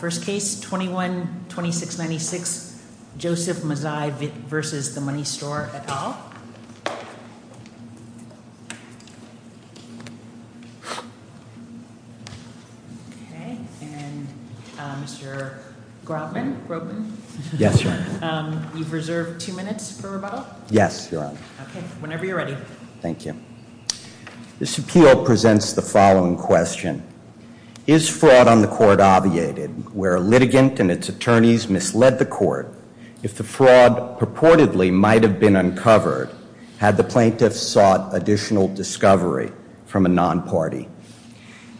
First Case 21-2696, Joseph Mazzei v. The Money Store, et al. Mr. Grobman? Yes, Your Honor. You've reserved two minutes for rebuttal? Yes, Your Honor. Whenever you're ready. Thank you. This appeal presents the following question. Is fraud on the court obviated, where a litigant and its attorneys misled the court? If the fraud purportedly might have been uncovered, had the plaintiffs sought additional discovery from a non-party?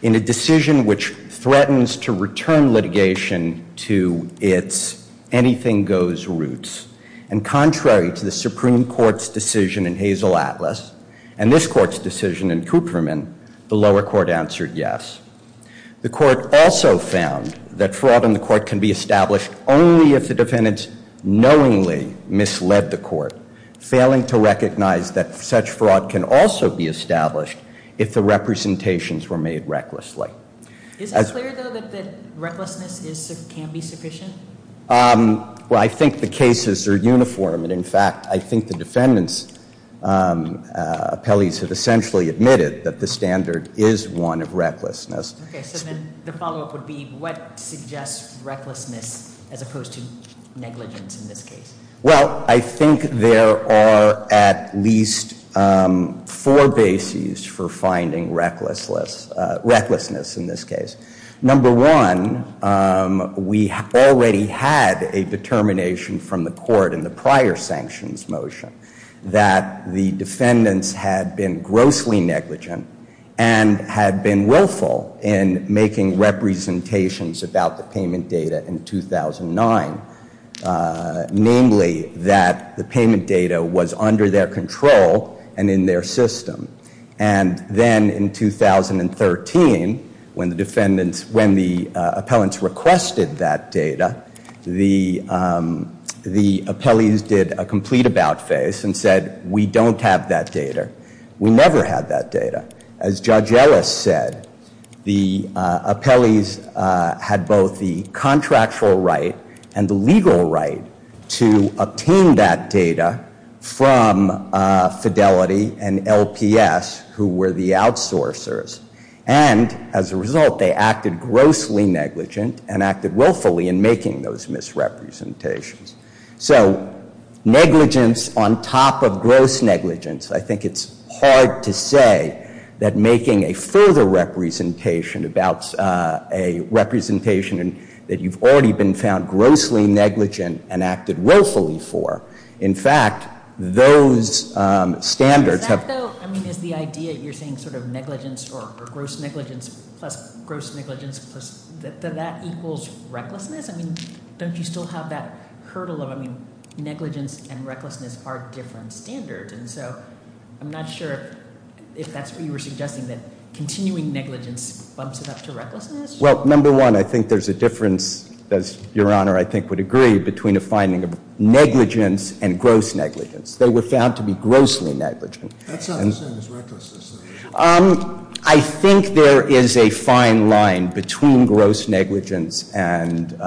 In a decision which threatens to return litigation to its anything-goes roots, and contrary to the Supreme Court's decision in Hazel Atlas, and this court's decision in Kupferman, the lower court answered yes. The court also found that fraud on the court can be established only if the defendants knowingly misled the court, failing to recognize that such fraud can also be established if the representations were made recklessly. Is it clear, though, that recklessness can be sufficient? Well, I think the cases are uniform, and in fact, I think the defendants' appellees have essentially admitted that the standard is one of recklessness. Okay, so then the follow-up would be, what suggests recklessness as opposed to negligence in this case? Well, I think there are at least four bases for finding recklessness in this case. Number one, we already had a determination from the court in the prior sanctions motion that the defendants had been grossly negligent and had been willful in making representations about the payment data in 2009. Namely, that the payment data was under their control and in their system. And then in 2013, when the defendants, when the appellants requested that data, the appellees did a complete about-face and said, we don't have that data. We never had that data. As Judge Ellis said, the appellees had both the contractual right and the legal right to obtain that data from Fidelity and LPS, who were the outsourcers. And as a result, they acted grossly negligent and acted willfully in making those misrepresentations. So negligence on top of gross negligence, I think it's hard to say that making a further representation about a representation that you've already been found grossly negligent and acted willfully for. In fact, those standards have- Does that, though, I mean, is the idea you're saying sort of negligence or gross negligence plus gross negligence, does that equal recklessness? I mean, don't you still have that hurdle of, I mean, negligence and recklessness are different standards. And so I'm not sure if that's what you were suggesting, that continuing negligence bumps it up to recklessness? Well, number one, I think there's a difference, as Your Honor I think would agree, between a finding of negligence and gross negligence. They were found to be grossly negligent. That's not the same as recklessness, though. I think there is a fine line between gross negligence and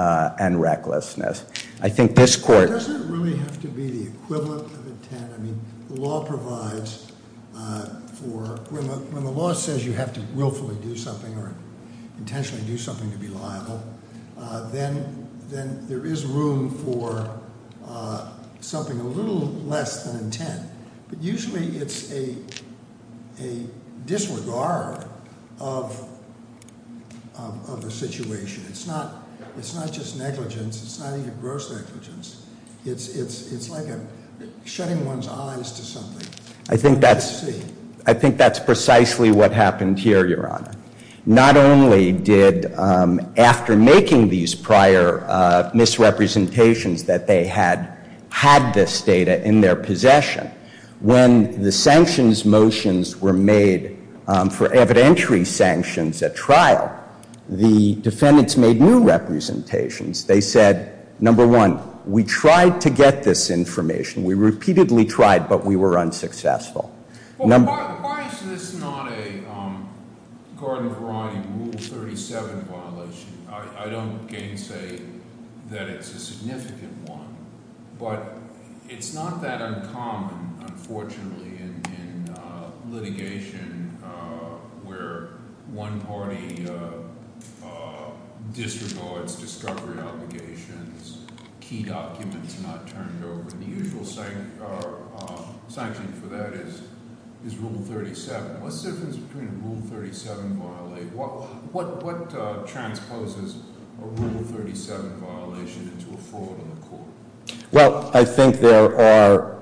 recklessness. I think this court- I mean, the law provides for- When the law says you have to willfully do something or intentionally do something to be liable, then there is room for something a little less than intent. But usually it's a disregard of the situation. It's not just negligence. It's not even gross negligence. It's like shutting one's eyes to something. I think that's precisely what happened here, Your Honor. Not only did, after making these prior misrepresentations that they had had this data in their possession, when the sanctions motions were made for evidentiary sanctions at trial, the defendants made new representations. They said, number one, we tried to get this information. We repeatedly tried, but we were unsuccessful. Why is this not a Garden of Variety Rule 37 violation? I don't gainsay that it's a significant one, but it's not that uncommon, unfortunately, in litigation where one party disregards discovery obligations, key documents not turned over, and the usual sanction for that is Rule 37. What's the difference between a Rule 37 violation? What transposes a Rule 37 violation into a fraud in the court? Well, I think there are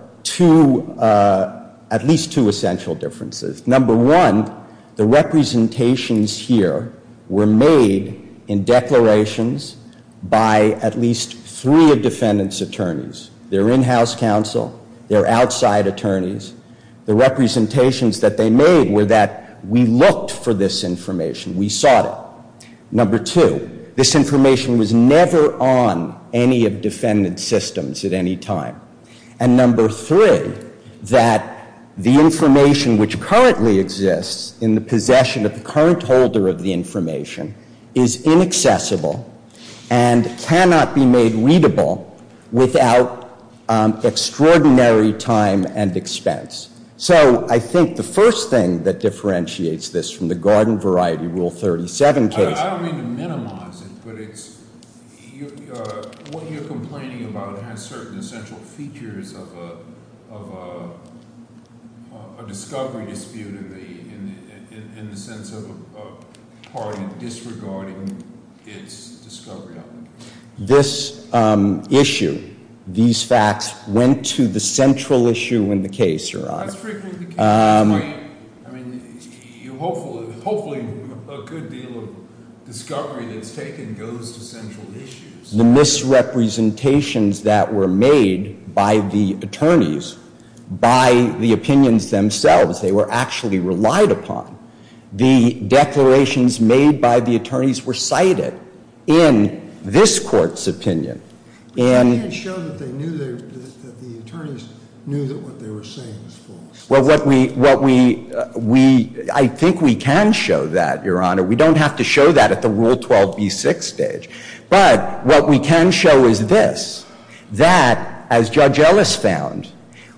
at least two essential differences. Number one, the representations here were made in declarations by at least three of defendants' attorneys. They're in-house counsel. They're outside attorneys. The representations that they made were that we looked for this information. We sought it. Number two, this information was never on any of defendant's systems at any time. And number three, that the information which currently exists in the possession of the current holder of the information is inaccessible and cannot be made readable without extraordinary time and expense. So I think the first thing that differentiates this from the Garden of Variety Rule 37 case— I don't mean to minimize it, but what you're complaining about has certain essential features of a discovery dispute in the sense of a party disregarding its discovery obligation. This issue, these facts, went to the central issue in the case, Your Honor. That's a pretty good point. I mean, hopefully a good deal of discovery that's taken goes to central issues. The misrepresentations that were made by the attorneys, by the opinions themselves, they were actually relied upon. The declarations made by the attorneys were cited in this Court's opinion. But you didn't show that the attorneys knew that what they were saying was false. Well, what we—I think we can show that, Your Honor. We don't have to show that at the Rule 12b6 stage. But what we can show is this, that as Judge Ellis found,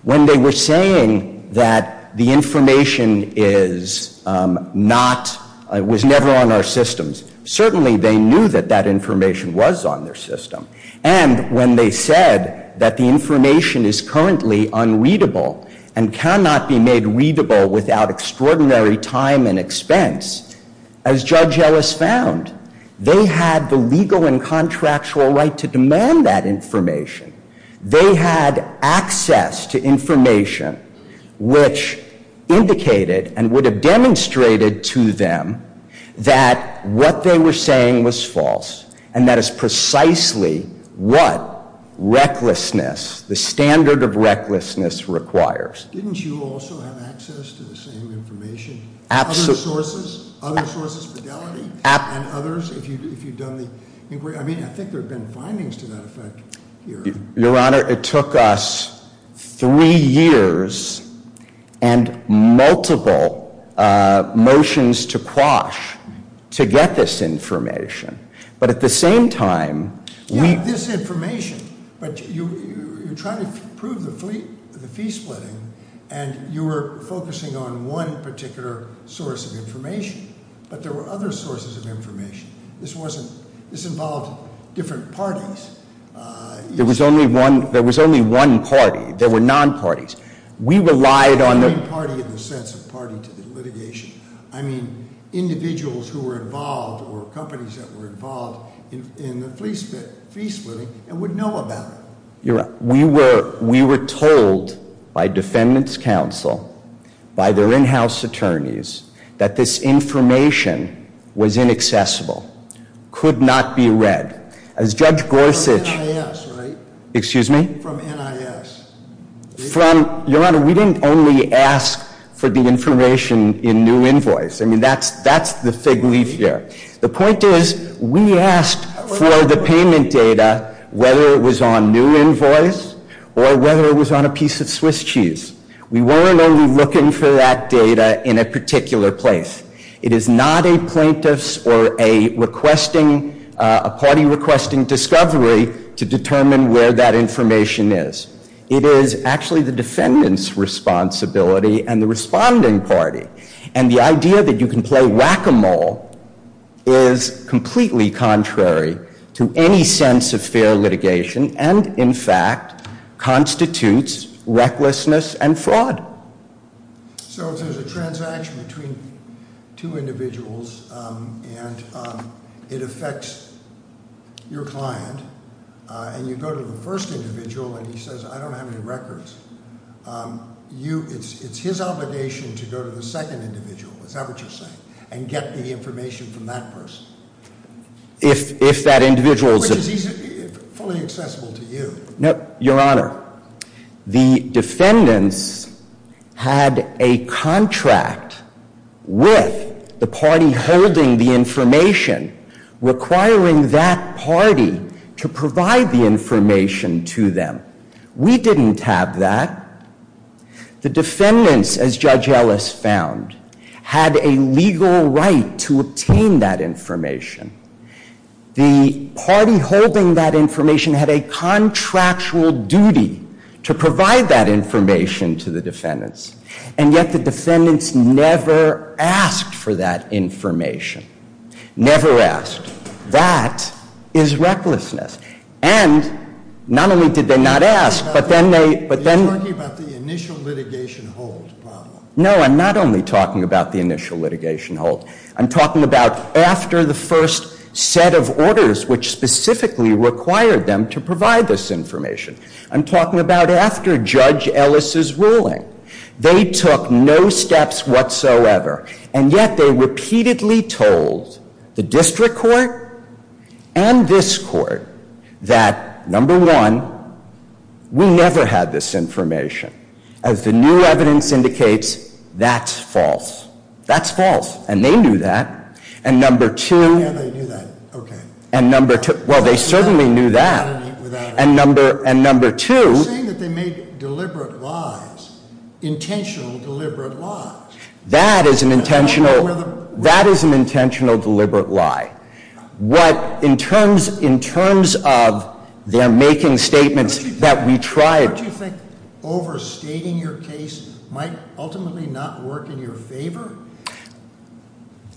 when they were saying that the information is not—was never on our systems, certainly they knew that that information was on their system. And when they said that the information is currently unreadable and cannot be made readable without extraordinary time and expense, as Judge Ellis found, they had the legal and contractual right to demand that information. They had access to information which indicated and would have demonstrated to them that what they were saying was false. And that is precisely what recklessness, the standard of recklessness, requires. Didn't you also have access to the same information? Other sources? Other sources of fidelity? And others, if you've done the inquiry? I mean, I think there have been findings to that effect here. Your Honor, it took us three years and multiple motions to quash to get this information. But at the same time, we— You went through the fee splitting, and you were focusing on one particular source of information. But there were other sources of information. This wasn't—this involved different parties. There was only one—there was only one party. There were non-parties. We relied on the— I don't mean party in the sense of party to the litigation. I mean individuals who were involved or companies that were involved in the fee splitting and would know about it. Your Honor, we were told by defendants' counsel, by their in-house attorneys, that this information was inaccessible, could not be read. As Judge Gorsuch— From NIS, right? Excuse me? From NIS. From—Your Honor, we didn't only ask for the information in new invoice. I mean, that's the fig leaf here. The point is, we asked for the payment data whether it was on new invoice or whether it was on a piece of Swiss cheese. We weren't only looking for that data in a particular place. It is not a plaintiff's or a requesting—a party requesting discovery to determine where that information is. It is actually the defendant's responsibility and the responding party. And the idea that you can play whack-a-mole is completely contrary to any sense of fair litigation and, in fact, constitutes recklessness and fraud. So if there's a transaction between two individuals and it affects your client and you go to the first individual and he says, I don't have any records, you—it's his obligation to go to the second individual. Is that what you're saying? And get the information from that person. If that individual's— Which is fully accessible to you. No, Your Honor. The defendants had a contract with the party holding the information requiring that party to provide the information to them. We didn't have that. The defendants, as Judge Ellis found, had a legal right to obtain that information. The party holding that information had a contractual duty to provide that information to the defendants. And yet the defendants never asked for that information. Never asked. That is recklessness. And not only did they not ask, but then they— Are you talking about the initial litigation hold problem? No, I'm not only talking about the initial litigation hold. I'm talking about after the first set of orders, which specifically required them to provide this information. I'm talking about after Judge Ellis's ruling. They took no steps whatsoever. And yet they repeatedly told the district court and this court that, number one, we never had this information. As the new evidence indicates, that's false. That's false. And they knew that. And number two— Yeah, they knew that. Okay. Well, they certainly knew that. And number two— You're saying that they made deliberate lies. Intentional, deliberate lies. That is an intentional deliberate lie. What, in terms of their making statements that we tried— Don't you think overstating your case might ultimately not work in your favor?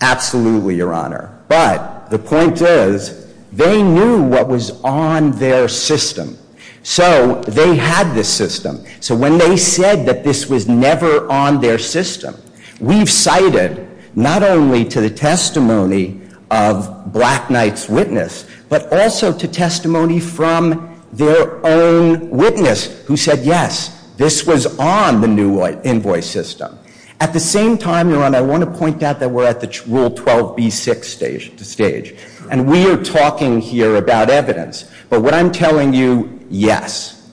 Absolutely, Your Honor. But the point is, they knew what was on their system. So they had this system. So when they said that this was never on their system, we've cited not only to the testimony of Black Knight's witness, but also to testimony from their own witness who said, yes, this was on the new invoice system. At the same time, Your Honor, I want to point out that we're at the Rule 12b6 stage. And we are talking here about evidence. But what I'm telling you, yes,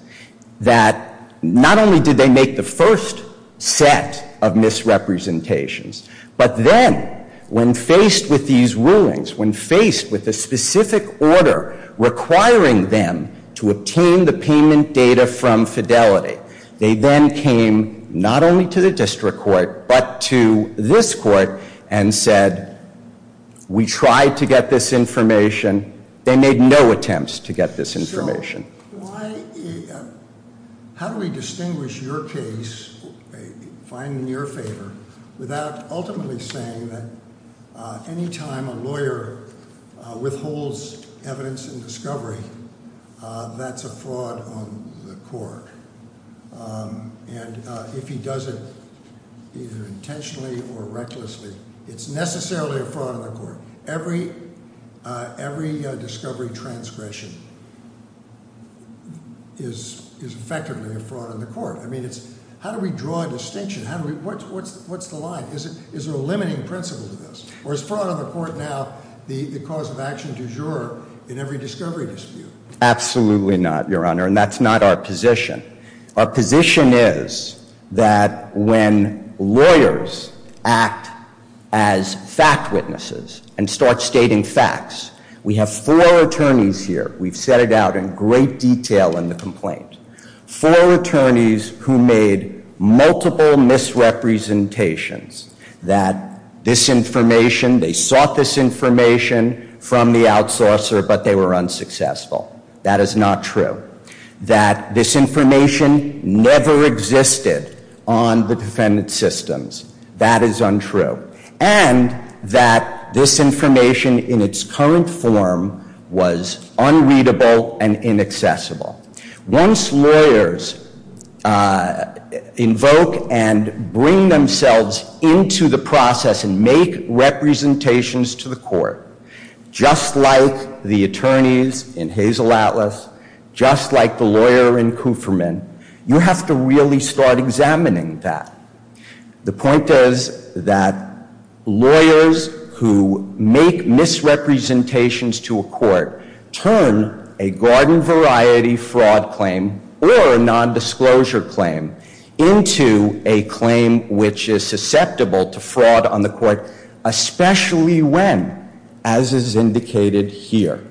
that not only did they make the first set of misrepresentations, but then, when faced with these rulings, when faced with a specific order requiring them to obtain the payment data from Fidelity, they then came not only to the district court but to this court and said, we tried to get this information. They made no attempts to get this information. So how do we distinguish your case, find it in your favor, without ultimately saying that any time a lawyer withholds evidence in discovery, that's a fraud on the court? And if he does it either intentionally or recklessly, it's necessarily a fraud on the court. Every discovery transgression is effectively a fraud on the court. I mean, how do we draw a distinction? What's the line? Is there a limiting principle to this? Or is fraud on the court now the cause of action du jour in every discovery dispute? Absolutely not, Your Honor, and that's not our position. Our position is that when lawyers act as fact witnesses and start stating facts, we have four attorneys here. We've set it out in great detail in the complaint. Four attorneys who made multiple misrepresentations that this information, they sought this information from the outsourcer, but they were unsuccessful. That is not true. That this information never existed on the defendant's systems, that is untrue. And that this information in its current form was unreadable and inaccessible. Once lawyers invoke and bring themselves into the process and make representations to the court, just like the attorneys in Hazel Atlas, just like the lawyer in Kufferman, you have to really start examining that. The point is that lawyers who make misrepresentations to a court turn a garden variety fraud claim or a nondisclosure claim into a claim which is susceptible to fraud on the court, especially when, as is indicated here,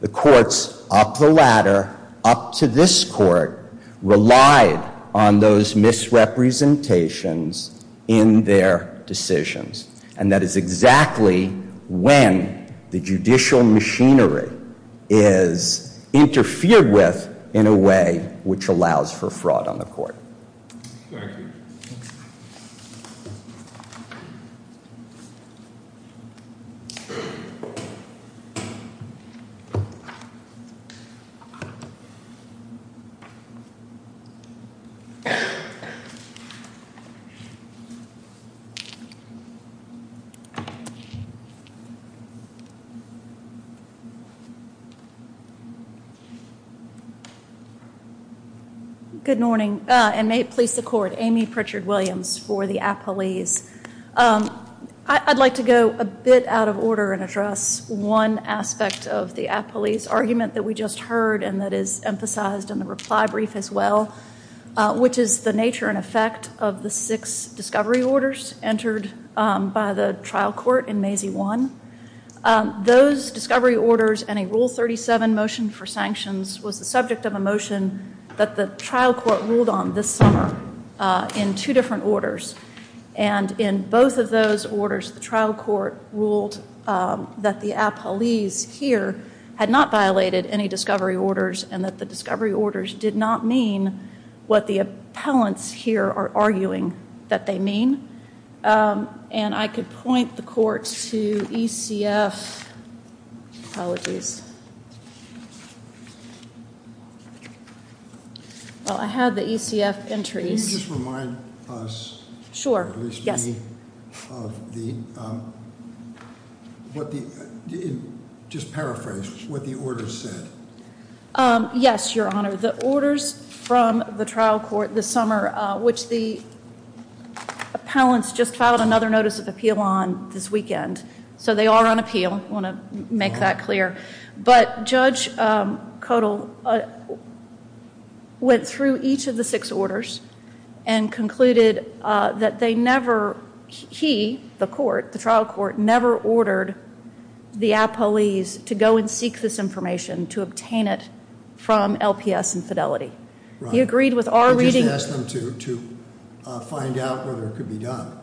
the courts up the ladder, up to this court, relied on those misrepresentations in their decisions. And that is exactly when the judicial machinery is interfered with in a way which allows for fraud on the court. Thank you. Thank you. Good morning, and may it please the court. Amy Pritchard-Williams for the appellees. I'd like to go a bit out of order and address one aspect of the appellee's argument that we just heard and that is emphasized in the reply brief as well, which is the nature and effect of the six discovery orders entered by the trial court in Mazie 1. Those discovery orders and a Rule 37 motion for sanctions was the subject of a motion that the trial court ruled on this summer in two different orders. And in both of those orders, the trial court ruled that the appellees here had not violated any discovery orders and that the discovery orders did not mean what the appellants here are arguing that they mean. And I could point the court to ECF. Apologies. Well, I have the ECF entries. Just remind us. Sure. Yes. Just paraphrase what the order said. Yes, Your Honor. The orders from the trial court this summer, which the appellants just filed another notice of appeal on this weekend. So they are on appeal. I don't want to make that clear. But Judge Kodal went through each of the six orders and concluded that they never, he, the court, the trial court, never ordered the appellees to go and seek this information to obtain it from LPS and Fidelity. He agreed with our reading. I just asked them to find out whether it could be done.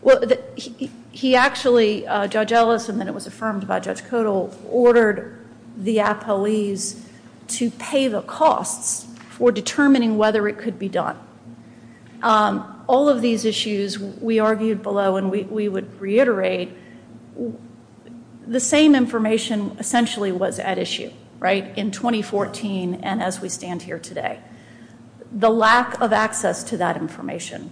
Well, he actually, Judge Ellis, and then it was affirmed by Judge Kodal, ordered the appellees to pay the costs for determining whether it could be done. All of these issues we argued below and we would reiterate. The same information essentially was at issue, right, in 2014 and as we stand here today. The lack of access to that information.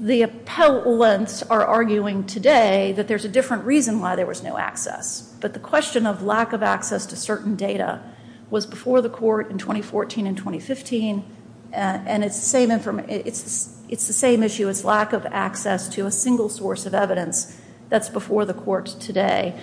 The appellants are arguing today that there's a different reason why there was no access. But the question of lack of access to certain data was before the court in 2014 and 2015, and it's the same issue as lack of access to a single source of evidence that's before the court today.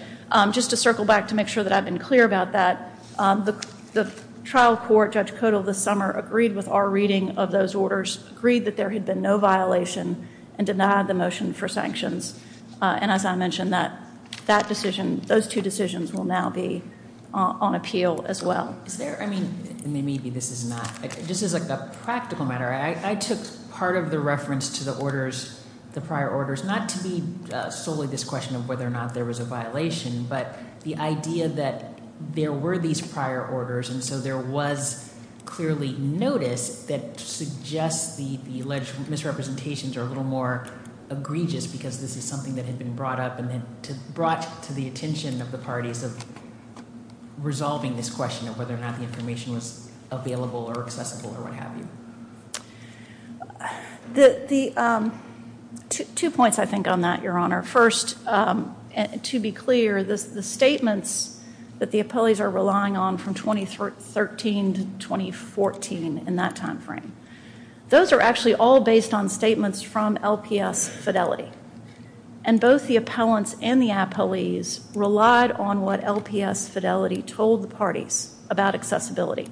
Just to circle back to make sure that I've been clear about that, the trial court, Judge Kodal, this summer agreed with our reading of those orders, agreed that there had been no violation and denied the motion for sanctions. And as I mentioned, that decision, those two decisions will now be on appeal as well. Is there, I mean, maybe this is not, this is a practical matter. I took part of the reference to the orders, the prior orders, not to be solely this question of whether or not there was a violation, but the idea that there were these prior orders and so there was clearly notice that suggests the alleged misrepresentations are a little more egregious because this is something that had been brought up and brought to the attention of the parties of resolving this question of whether or not the information was available or accessible or what have you. Two points, I think, on that, Your Honor. First, to be clear, the statements that the appellees are relying on from 2013 to 2014 in that time frame, those are actually all based on statements from LPS Fidelity. And both the appellants and the appellees relied on what LPS Fidelity told the parties about accessibility.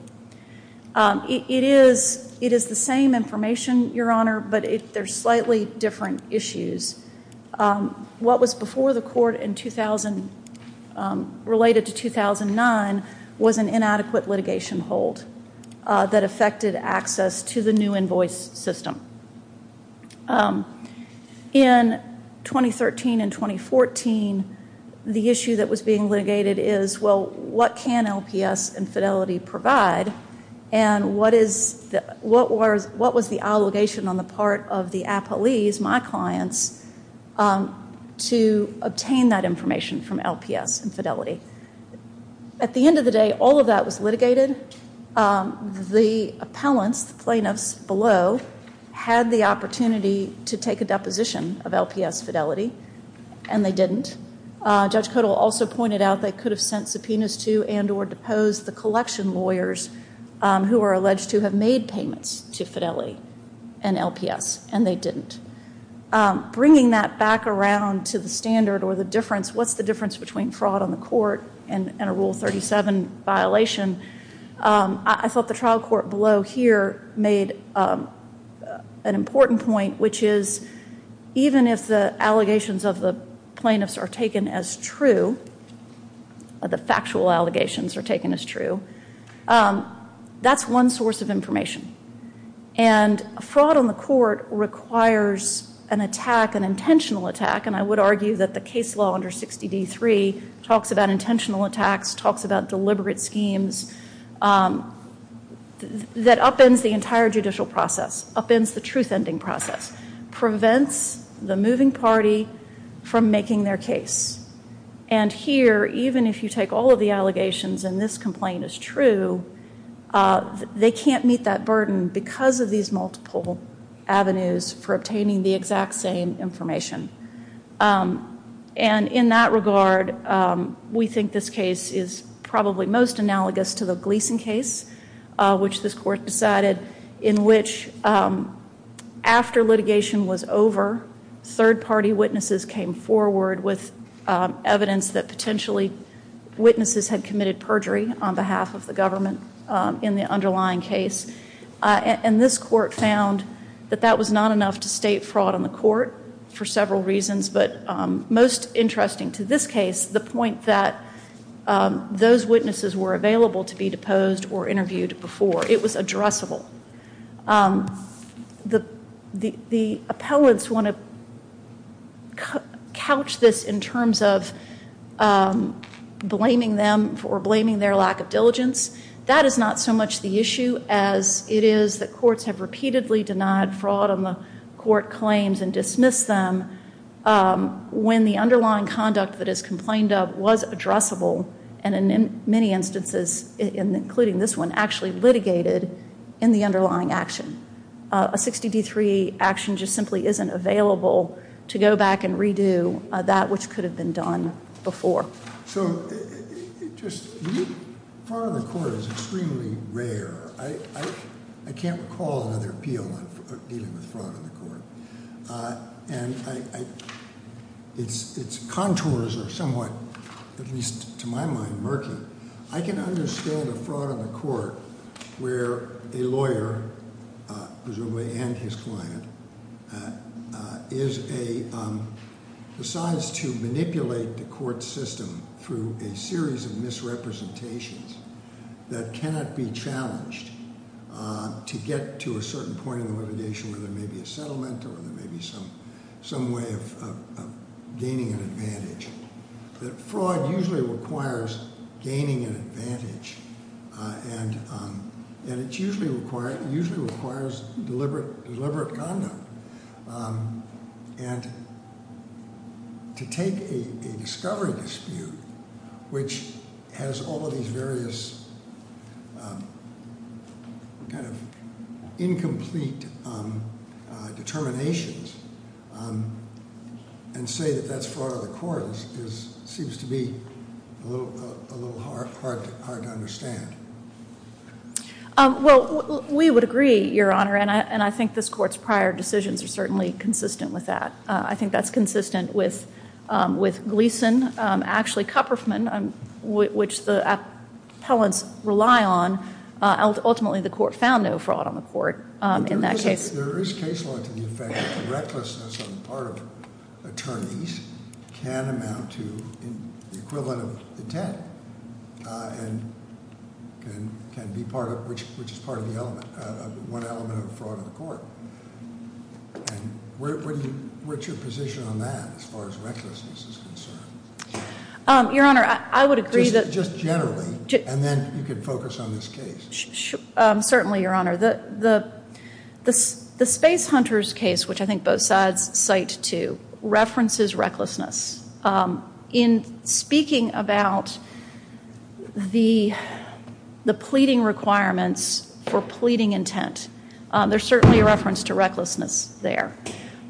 It is the same information, Your Honor, but they're slightly different issues. What was before the court in 2000 related to 2009 was an inadequate litigation hold that affected access to the new invoice system. In 2013 and 2014, the issue that was being litigated is, well, what can LPS and Fidelity provide and what was the allegation on the part of the appellees, my clients, to obtain that information from LPS and Fidelity? At the end of the day, all of that was litigated. The appellants, the plaintiffs below, had the opportunity to take a deposition of LPS Fidelity, and they didn't. Judge Kodal also pointed out they could have sent subpoenas to and or deposed the collection lawyers who were alleged to have made payments to Fidelity and LPS, and they didn't. Bringing that back around to the standard or the difference, what's the difference between fraud on the court and a Rule 37 violation? I thought the trial court below here made an important point, which is even if the allegations of the plaintiffs are taken as true, the factual allegations are taken as true, that's one source of information. Fraud on the court requires an attack, an intentional attack, and I would argue that the case law under 60D3 talks about intentional attacks, talks about deliberate schemes that upends the entire judicial process, upends the truth-ending process, prevents the moving party from making their case. And here, even if you take all of the allegations and this complaint is true, they can't meet that burden because of these multiple avenues for obtaining the exact same information. And in that regard, we think this case is probably most analogous to the Gleason case, which this court decided in which after litigation was over, third-party witnesses came forward with evidence that potentially witnesses had committed perjury on behalf of the government in the underlying case. And this court found that that was not enough to state fraud on the court for several reasons, but most interesting to this case, the point that those witnesses were available to be deposed or interviewed before. It was addressable. The appellants want to couch this in terms of blaming them for blaming their lack of diligence. That is not so much the issue as it is that courts have repeatedly denied fraud on the court claims and dismissed them when the underlying conduct that is complained of was addressable, and in many instances, including this one, actually litigated in the underlying action. A 60D3 action just simply isn't available to go back and redo that which could have been done before. So just fraud on the court is extremely rare. I can't recall another appeal dealing with fraud on the court. And its contours are somewhat, at least to my mind, murky. I can understand a fraud on the court where a lawyer, presumably and his client, decides to manipulate the court system through a series of misrepresentations that cannot be challenged to get to a certain point in the litigation where there may be a settlement or there may be some way of gaining an advantage. Fraud usually requires gaining an advantage, and it usually requires deliberate conduct. And to take a discovery dispute which has all of these various kind of incomplete determinations and say that that's fraud on the court seems to be a little hard to understand. Well, we would agree, Your Honor, and I think this court's prior decisions are certainly consistent with that. I think that's consistent with Gleason. Actually, Kupferfman, which the appellants rely on, ultimately the court found no fraud on the court in that case. There is case law to the effect that the recklessness on the part of attorneys can amount to the equivalent of intent. And can be part of, which is part of the element, one element of fraud on the court. And where's your position on that as far as recklessness is concerned? Your Honor, I would agree that- Just generally, and then you can focus on this case. Certainly, Your Honor. The Space Hunters case, which I think both sides cite to, references recklessness. In speaking about the pleading requirements for pleading intent, there's certainly a reference to recklessness there.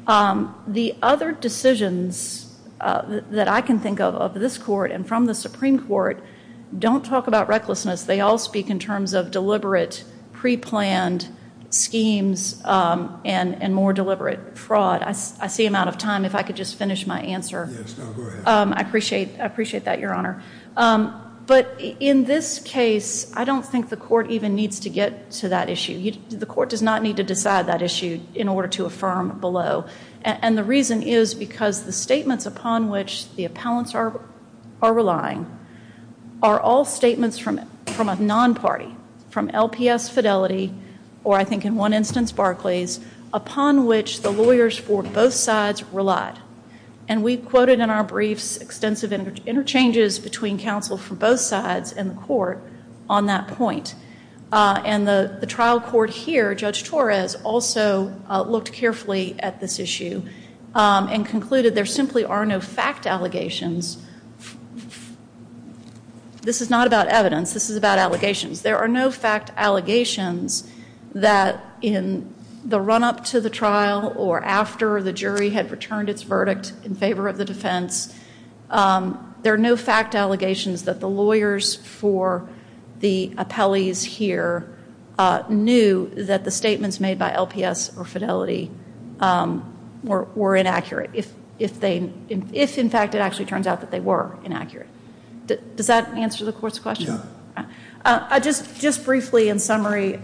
The other decisions that I can think of, of this court and from the Supreme Court, don't talk about recklessness. They all speak in terms of deliberate, preplanned schemes and more deliberate fraud. I see I'm out of time. If I could just finish my answer. Yes, go ahead. I appreciate that, Your Honor. But in this case, I don't think the court even needs to get to that issue. The court does not need to decide that issue in order to affirm below. And the reason is because the statements upon which the appellants are relying are all statements from a non-party. From LPS Fidelity, or I think in one instance Barclays, upon which the lawyers for both sides relied. And we quoted in our briefs extensive interchanges between counsel for both sides in the court on that point. And the trial court here, Judge Torres, also looked carefully at this issue and concluded there simply are no fact allegations. This is not about evidence. This is about allegations. There are no fact allegations that in the run-up to the trial or after the jury had returned its verdict in favor of the defense, there are no fact allegations that the lawyers for the appellees here knew that the statements made by LPS or Fidelity were inaccurate. If in fact it actually turns out that they were inaccurate. Does that answer the court's question? No. Just briefly in summary,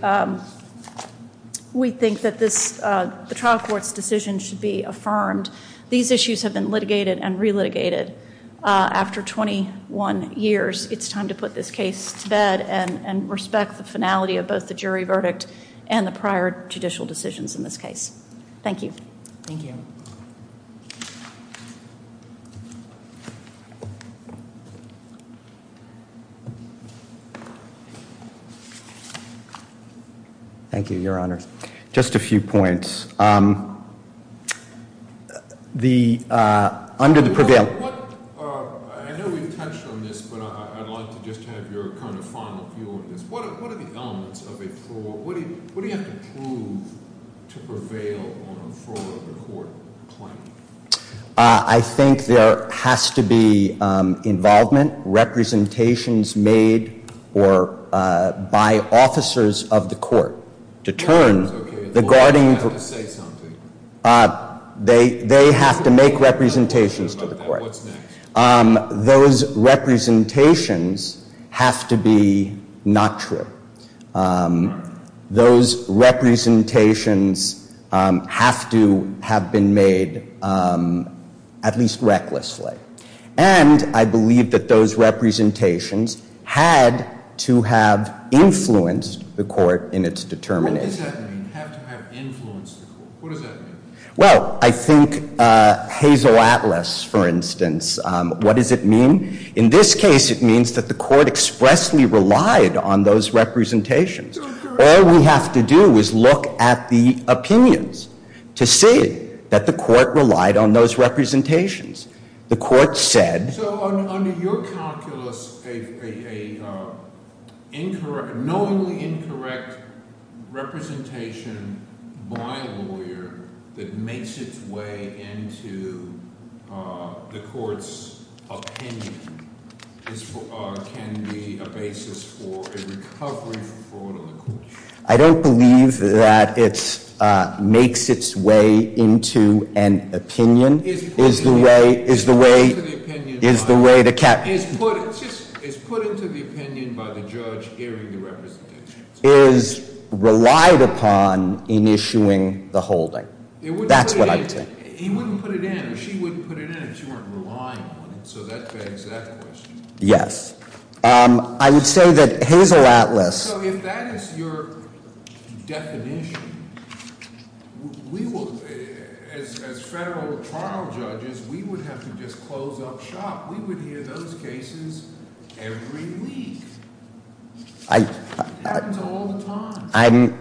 we think that the trial court's decision should be affirmed. These issues have been litigated and re-litigated after 21 years. It's time to put this case to bed and respect the finality of both the jury verdict and the prior judicial decisions in this case. Thank you. Thank you. Thank you, Your Honor. Just a few points. Under the prevail- I know we've touched on this, but I'd like to just have your kind of final view on this. What are the elements of a fraud? What do you have to prove to prevail on a fraud court claim? I think there has to be involvement, representations made by officers of the court to turn the guarding- You have to say something. They have to make representations to the court. What's next? Those representations have to be not true. Those representations have to have been made at least recklessly. And I believe that those representations had to have influenced the court in its determination. What does that mean, have to have influenced the court? What does that mean? Well, I think Hazel Atlas, for instance, what does it mean? In this case, it means that the court expressly relied on those representations. All we have to do is look at the opinions to see that the court relied on those representations. The court said- So under your calculus, a knowingly incorrect representation by a lawyer that makes its way into the court's opinion can be a basis for a recovery for fraud on the court sheet. I don't believe that it makes its way into an opinion. Is put into the opinion by the judge hearing the representations. Is relied upon in issuing the holding. That's what I would say. He wouldn't put it in, or she wouldn't put it in if she weren't relying on it. So that begs that question. Yes. I would say that Hazel Atlas- So if that is your definition, we will, as federal trial judges, we would have to just close up shop. We would hear those cases every week. It happens all the time.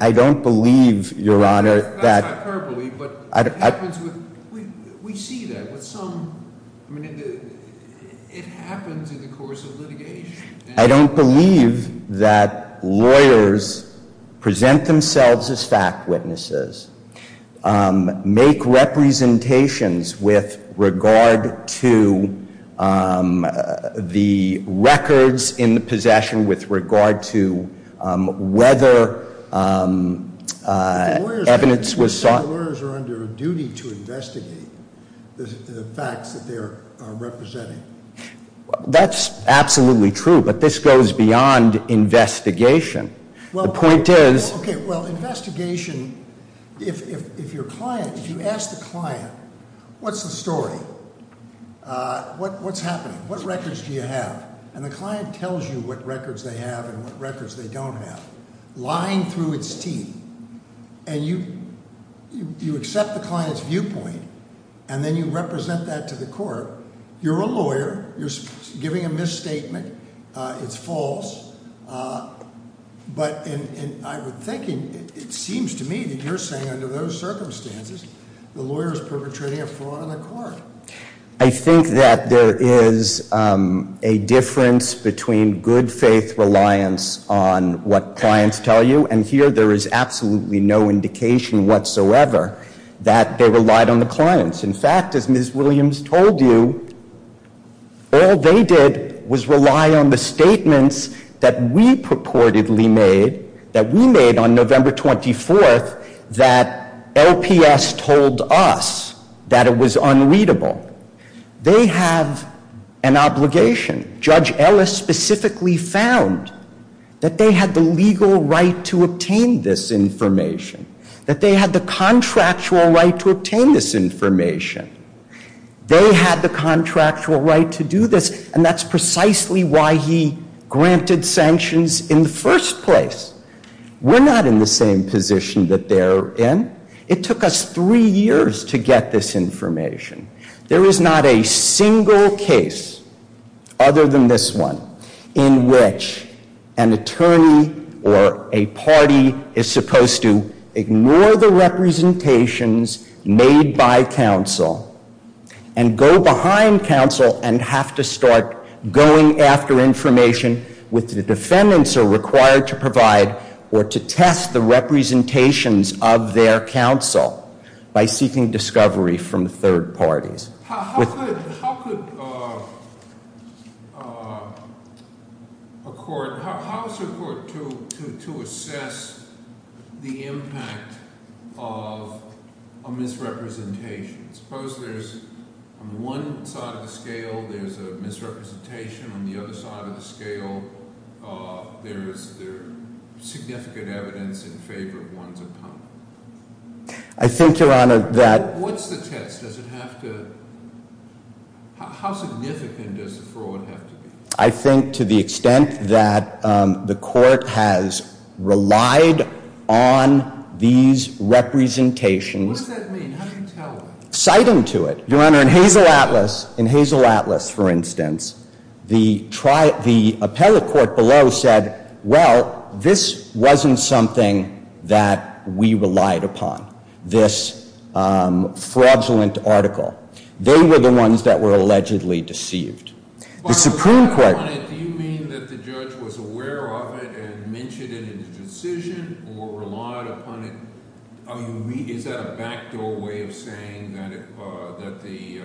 I don't believe, Your Honor, that- That's hyperbole, but it happens with, we see that with some, I mean, it happens in the course of litigation. I don't believe that lawyers present themselves as fact witnesses, make representations with regard to the records in the possession, with regard to whether evidence was sought- Lawyers are under a duty to investigate the facts that they are representing. That's absolutely true, but this goes beyond investigation. The point is- Okay, well, investigation, if you ask the client, what's the story? What's happening? What records do you have? And the client tells you what records they have and what records they don't have. Lying through its teeth. And you accept the client's viewpoint, and then you represent that to the court. You're a lawyer. You're giving a misstatement. It's false. But in my thinking, it seems to me that you're saying under those circumstances, the lawyer is perpetrating a fraud on the court. I think that there is a difference between good faith reliance on what clients tell you, and here there is absolutely no indication whatsoever that they relied on the clients. In fact, as Ms. Williams told you, all they did was rely on the statements that we purportedly made, that we made on November 24th, that LPS told us that it was unreadable. They have an obligation. Judge Ellis specifically found that they had the legal right to obtain this information, that they had the contractual right to obtain this information. They had the contractual right to do this, and that's precisely why he granted sanctions in the first place. We're not in the same position that they're in. It took us three years to get this information. There is not a single case other than this one in which an attorney or a party is supposed to ignore the representations made by counsel and go behind counsel and have to start going after information with the defendants who are required to provide or to test the representations of their counsel by seeking discovery from third parties. How could a court, how is a court to assess the impact of a misrepresentation? Suppose there's, on one side of the scale, there's a misrepresentation. On the other side of the scale, there's significant evidence in favor of one's opponent. I think, Your Honor, that- What's the test? Does it have to, how significant does the fraud have to be? I think to the extent that the court has relied on these representations- What does that mean? How do you tell that? Citing to it. Your Honor, in Hazel Atlas, in Hazel Atlas, for instance, the appellate court below said, well, this wasn't something that we relied upon, this fraudulent article. They were the ones that were allegedly deceived. The Supreme Court- By relied upon it, do you mean that the judge was aware of it and mentioned it in his decision or relied upon it? I mean, is that a backdoor way of saying that the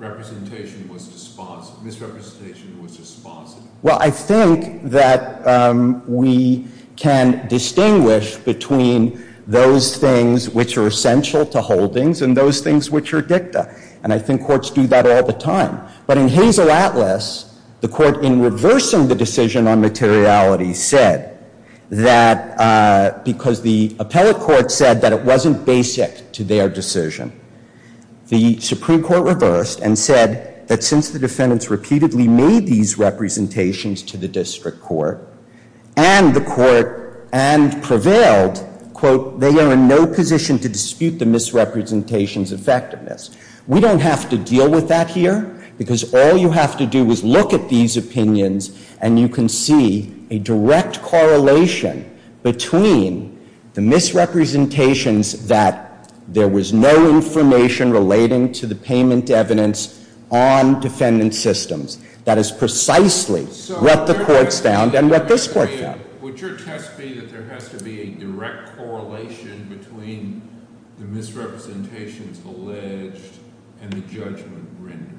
misrepresentation was dispositive? Well, I think that we can distinguish between those things which are essential to holdings and those things which are dicta. And I think courts do that all the time. But in Hazel Atlas, the court in reversing the decision on materiality said that because the appellate court said that it wasn't basic to their decision, the Supreme Court reversed and said that since the defendants repeatedly made these representations to the district court, and the court and prevailed, quote, they are in no position to dispute the misrepresentation's effectiveness. We don't have to deal with that here because all you have to do is look at these opinions and you can see a direct correlation between the misrepresentations that there was no information relating to the payment evidence on defendant systems. That is precisely what the courts found and what this court found. Would your test be that there has to be a direct correlation between the misrepresentations alleged and the judgment rendered?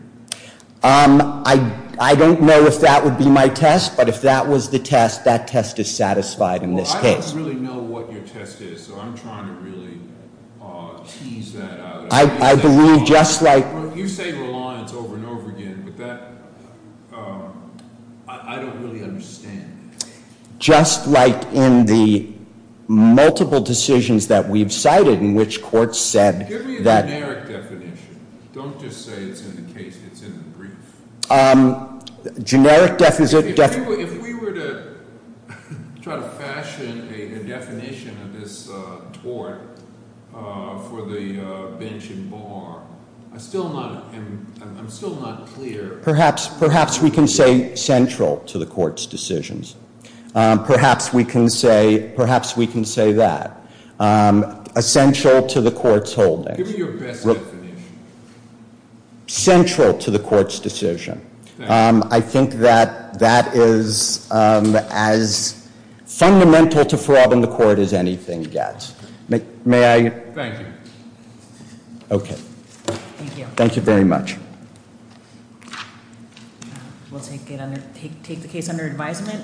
I don't know if that would be my test, but if that was the test, that test is satisfied in this case. Well, I don't really know what your test is, so I'm trying to really tease that out. I believe just like- You say reliance over and over again, but that, I don't really understand. Just like in the multiple decisions that we've cited in which courts said that- Give me a generic definition. Don't just say it's in the case, it's in the brief. Generic definition- If we were to try to fashion a definition of this tort for the bench and bar, I'm still not clear- Perhaps we can say central to the court's decisions. Perhaps we can say that. Essential to the court's holding. Give me your best definition. Central to the court's decision. I think that that is as fundamental to fraud in the court as anything gets. May I- Thank you. Okay. Thank you. Thank you very much. We'll take the case under advisement.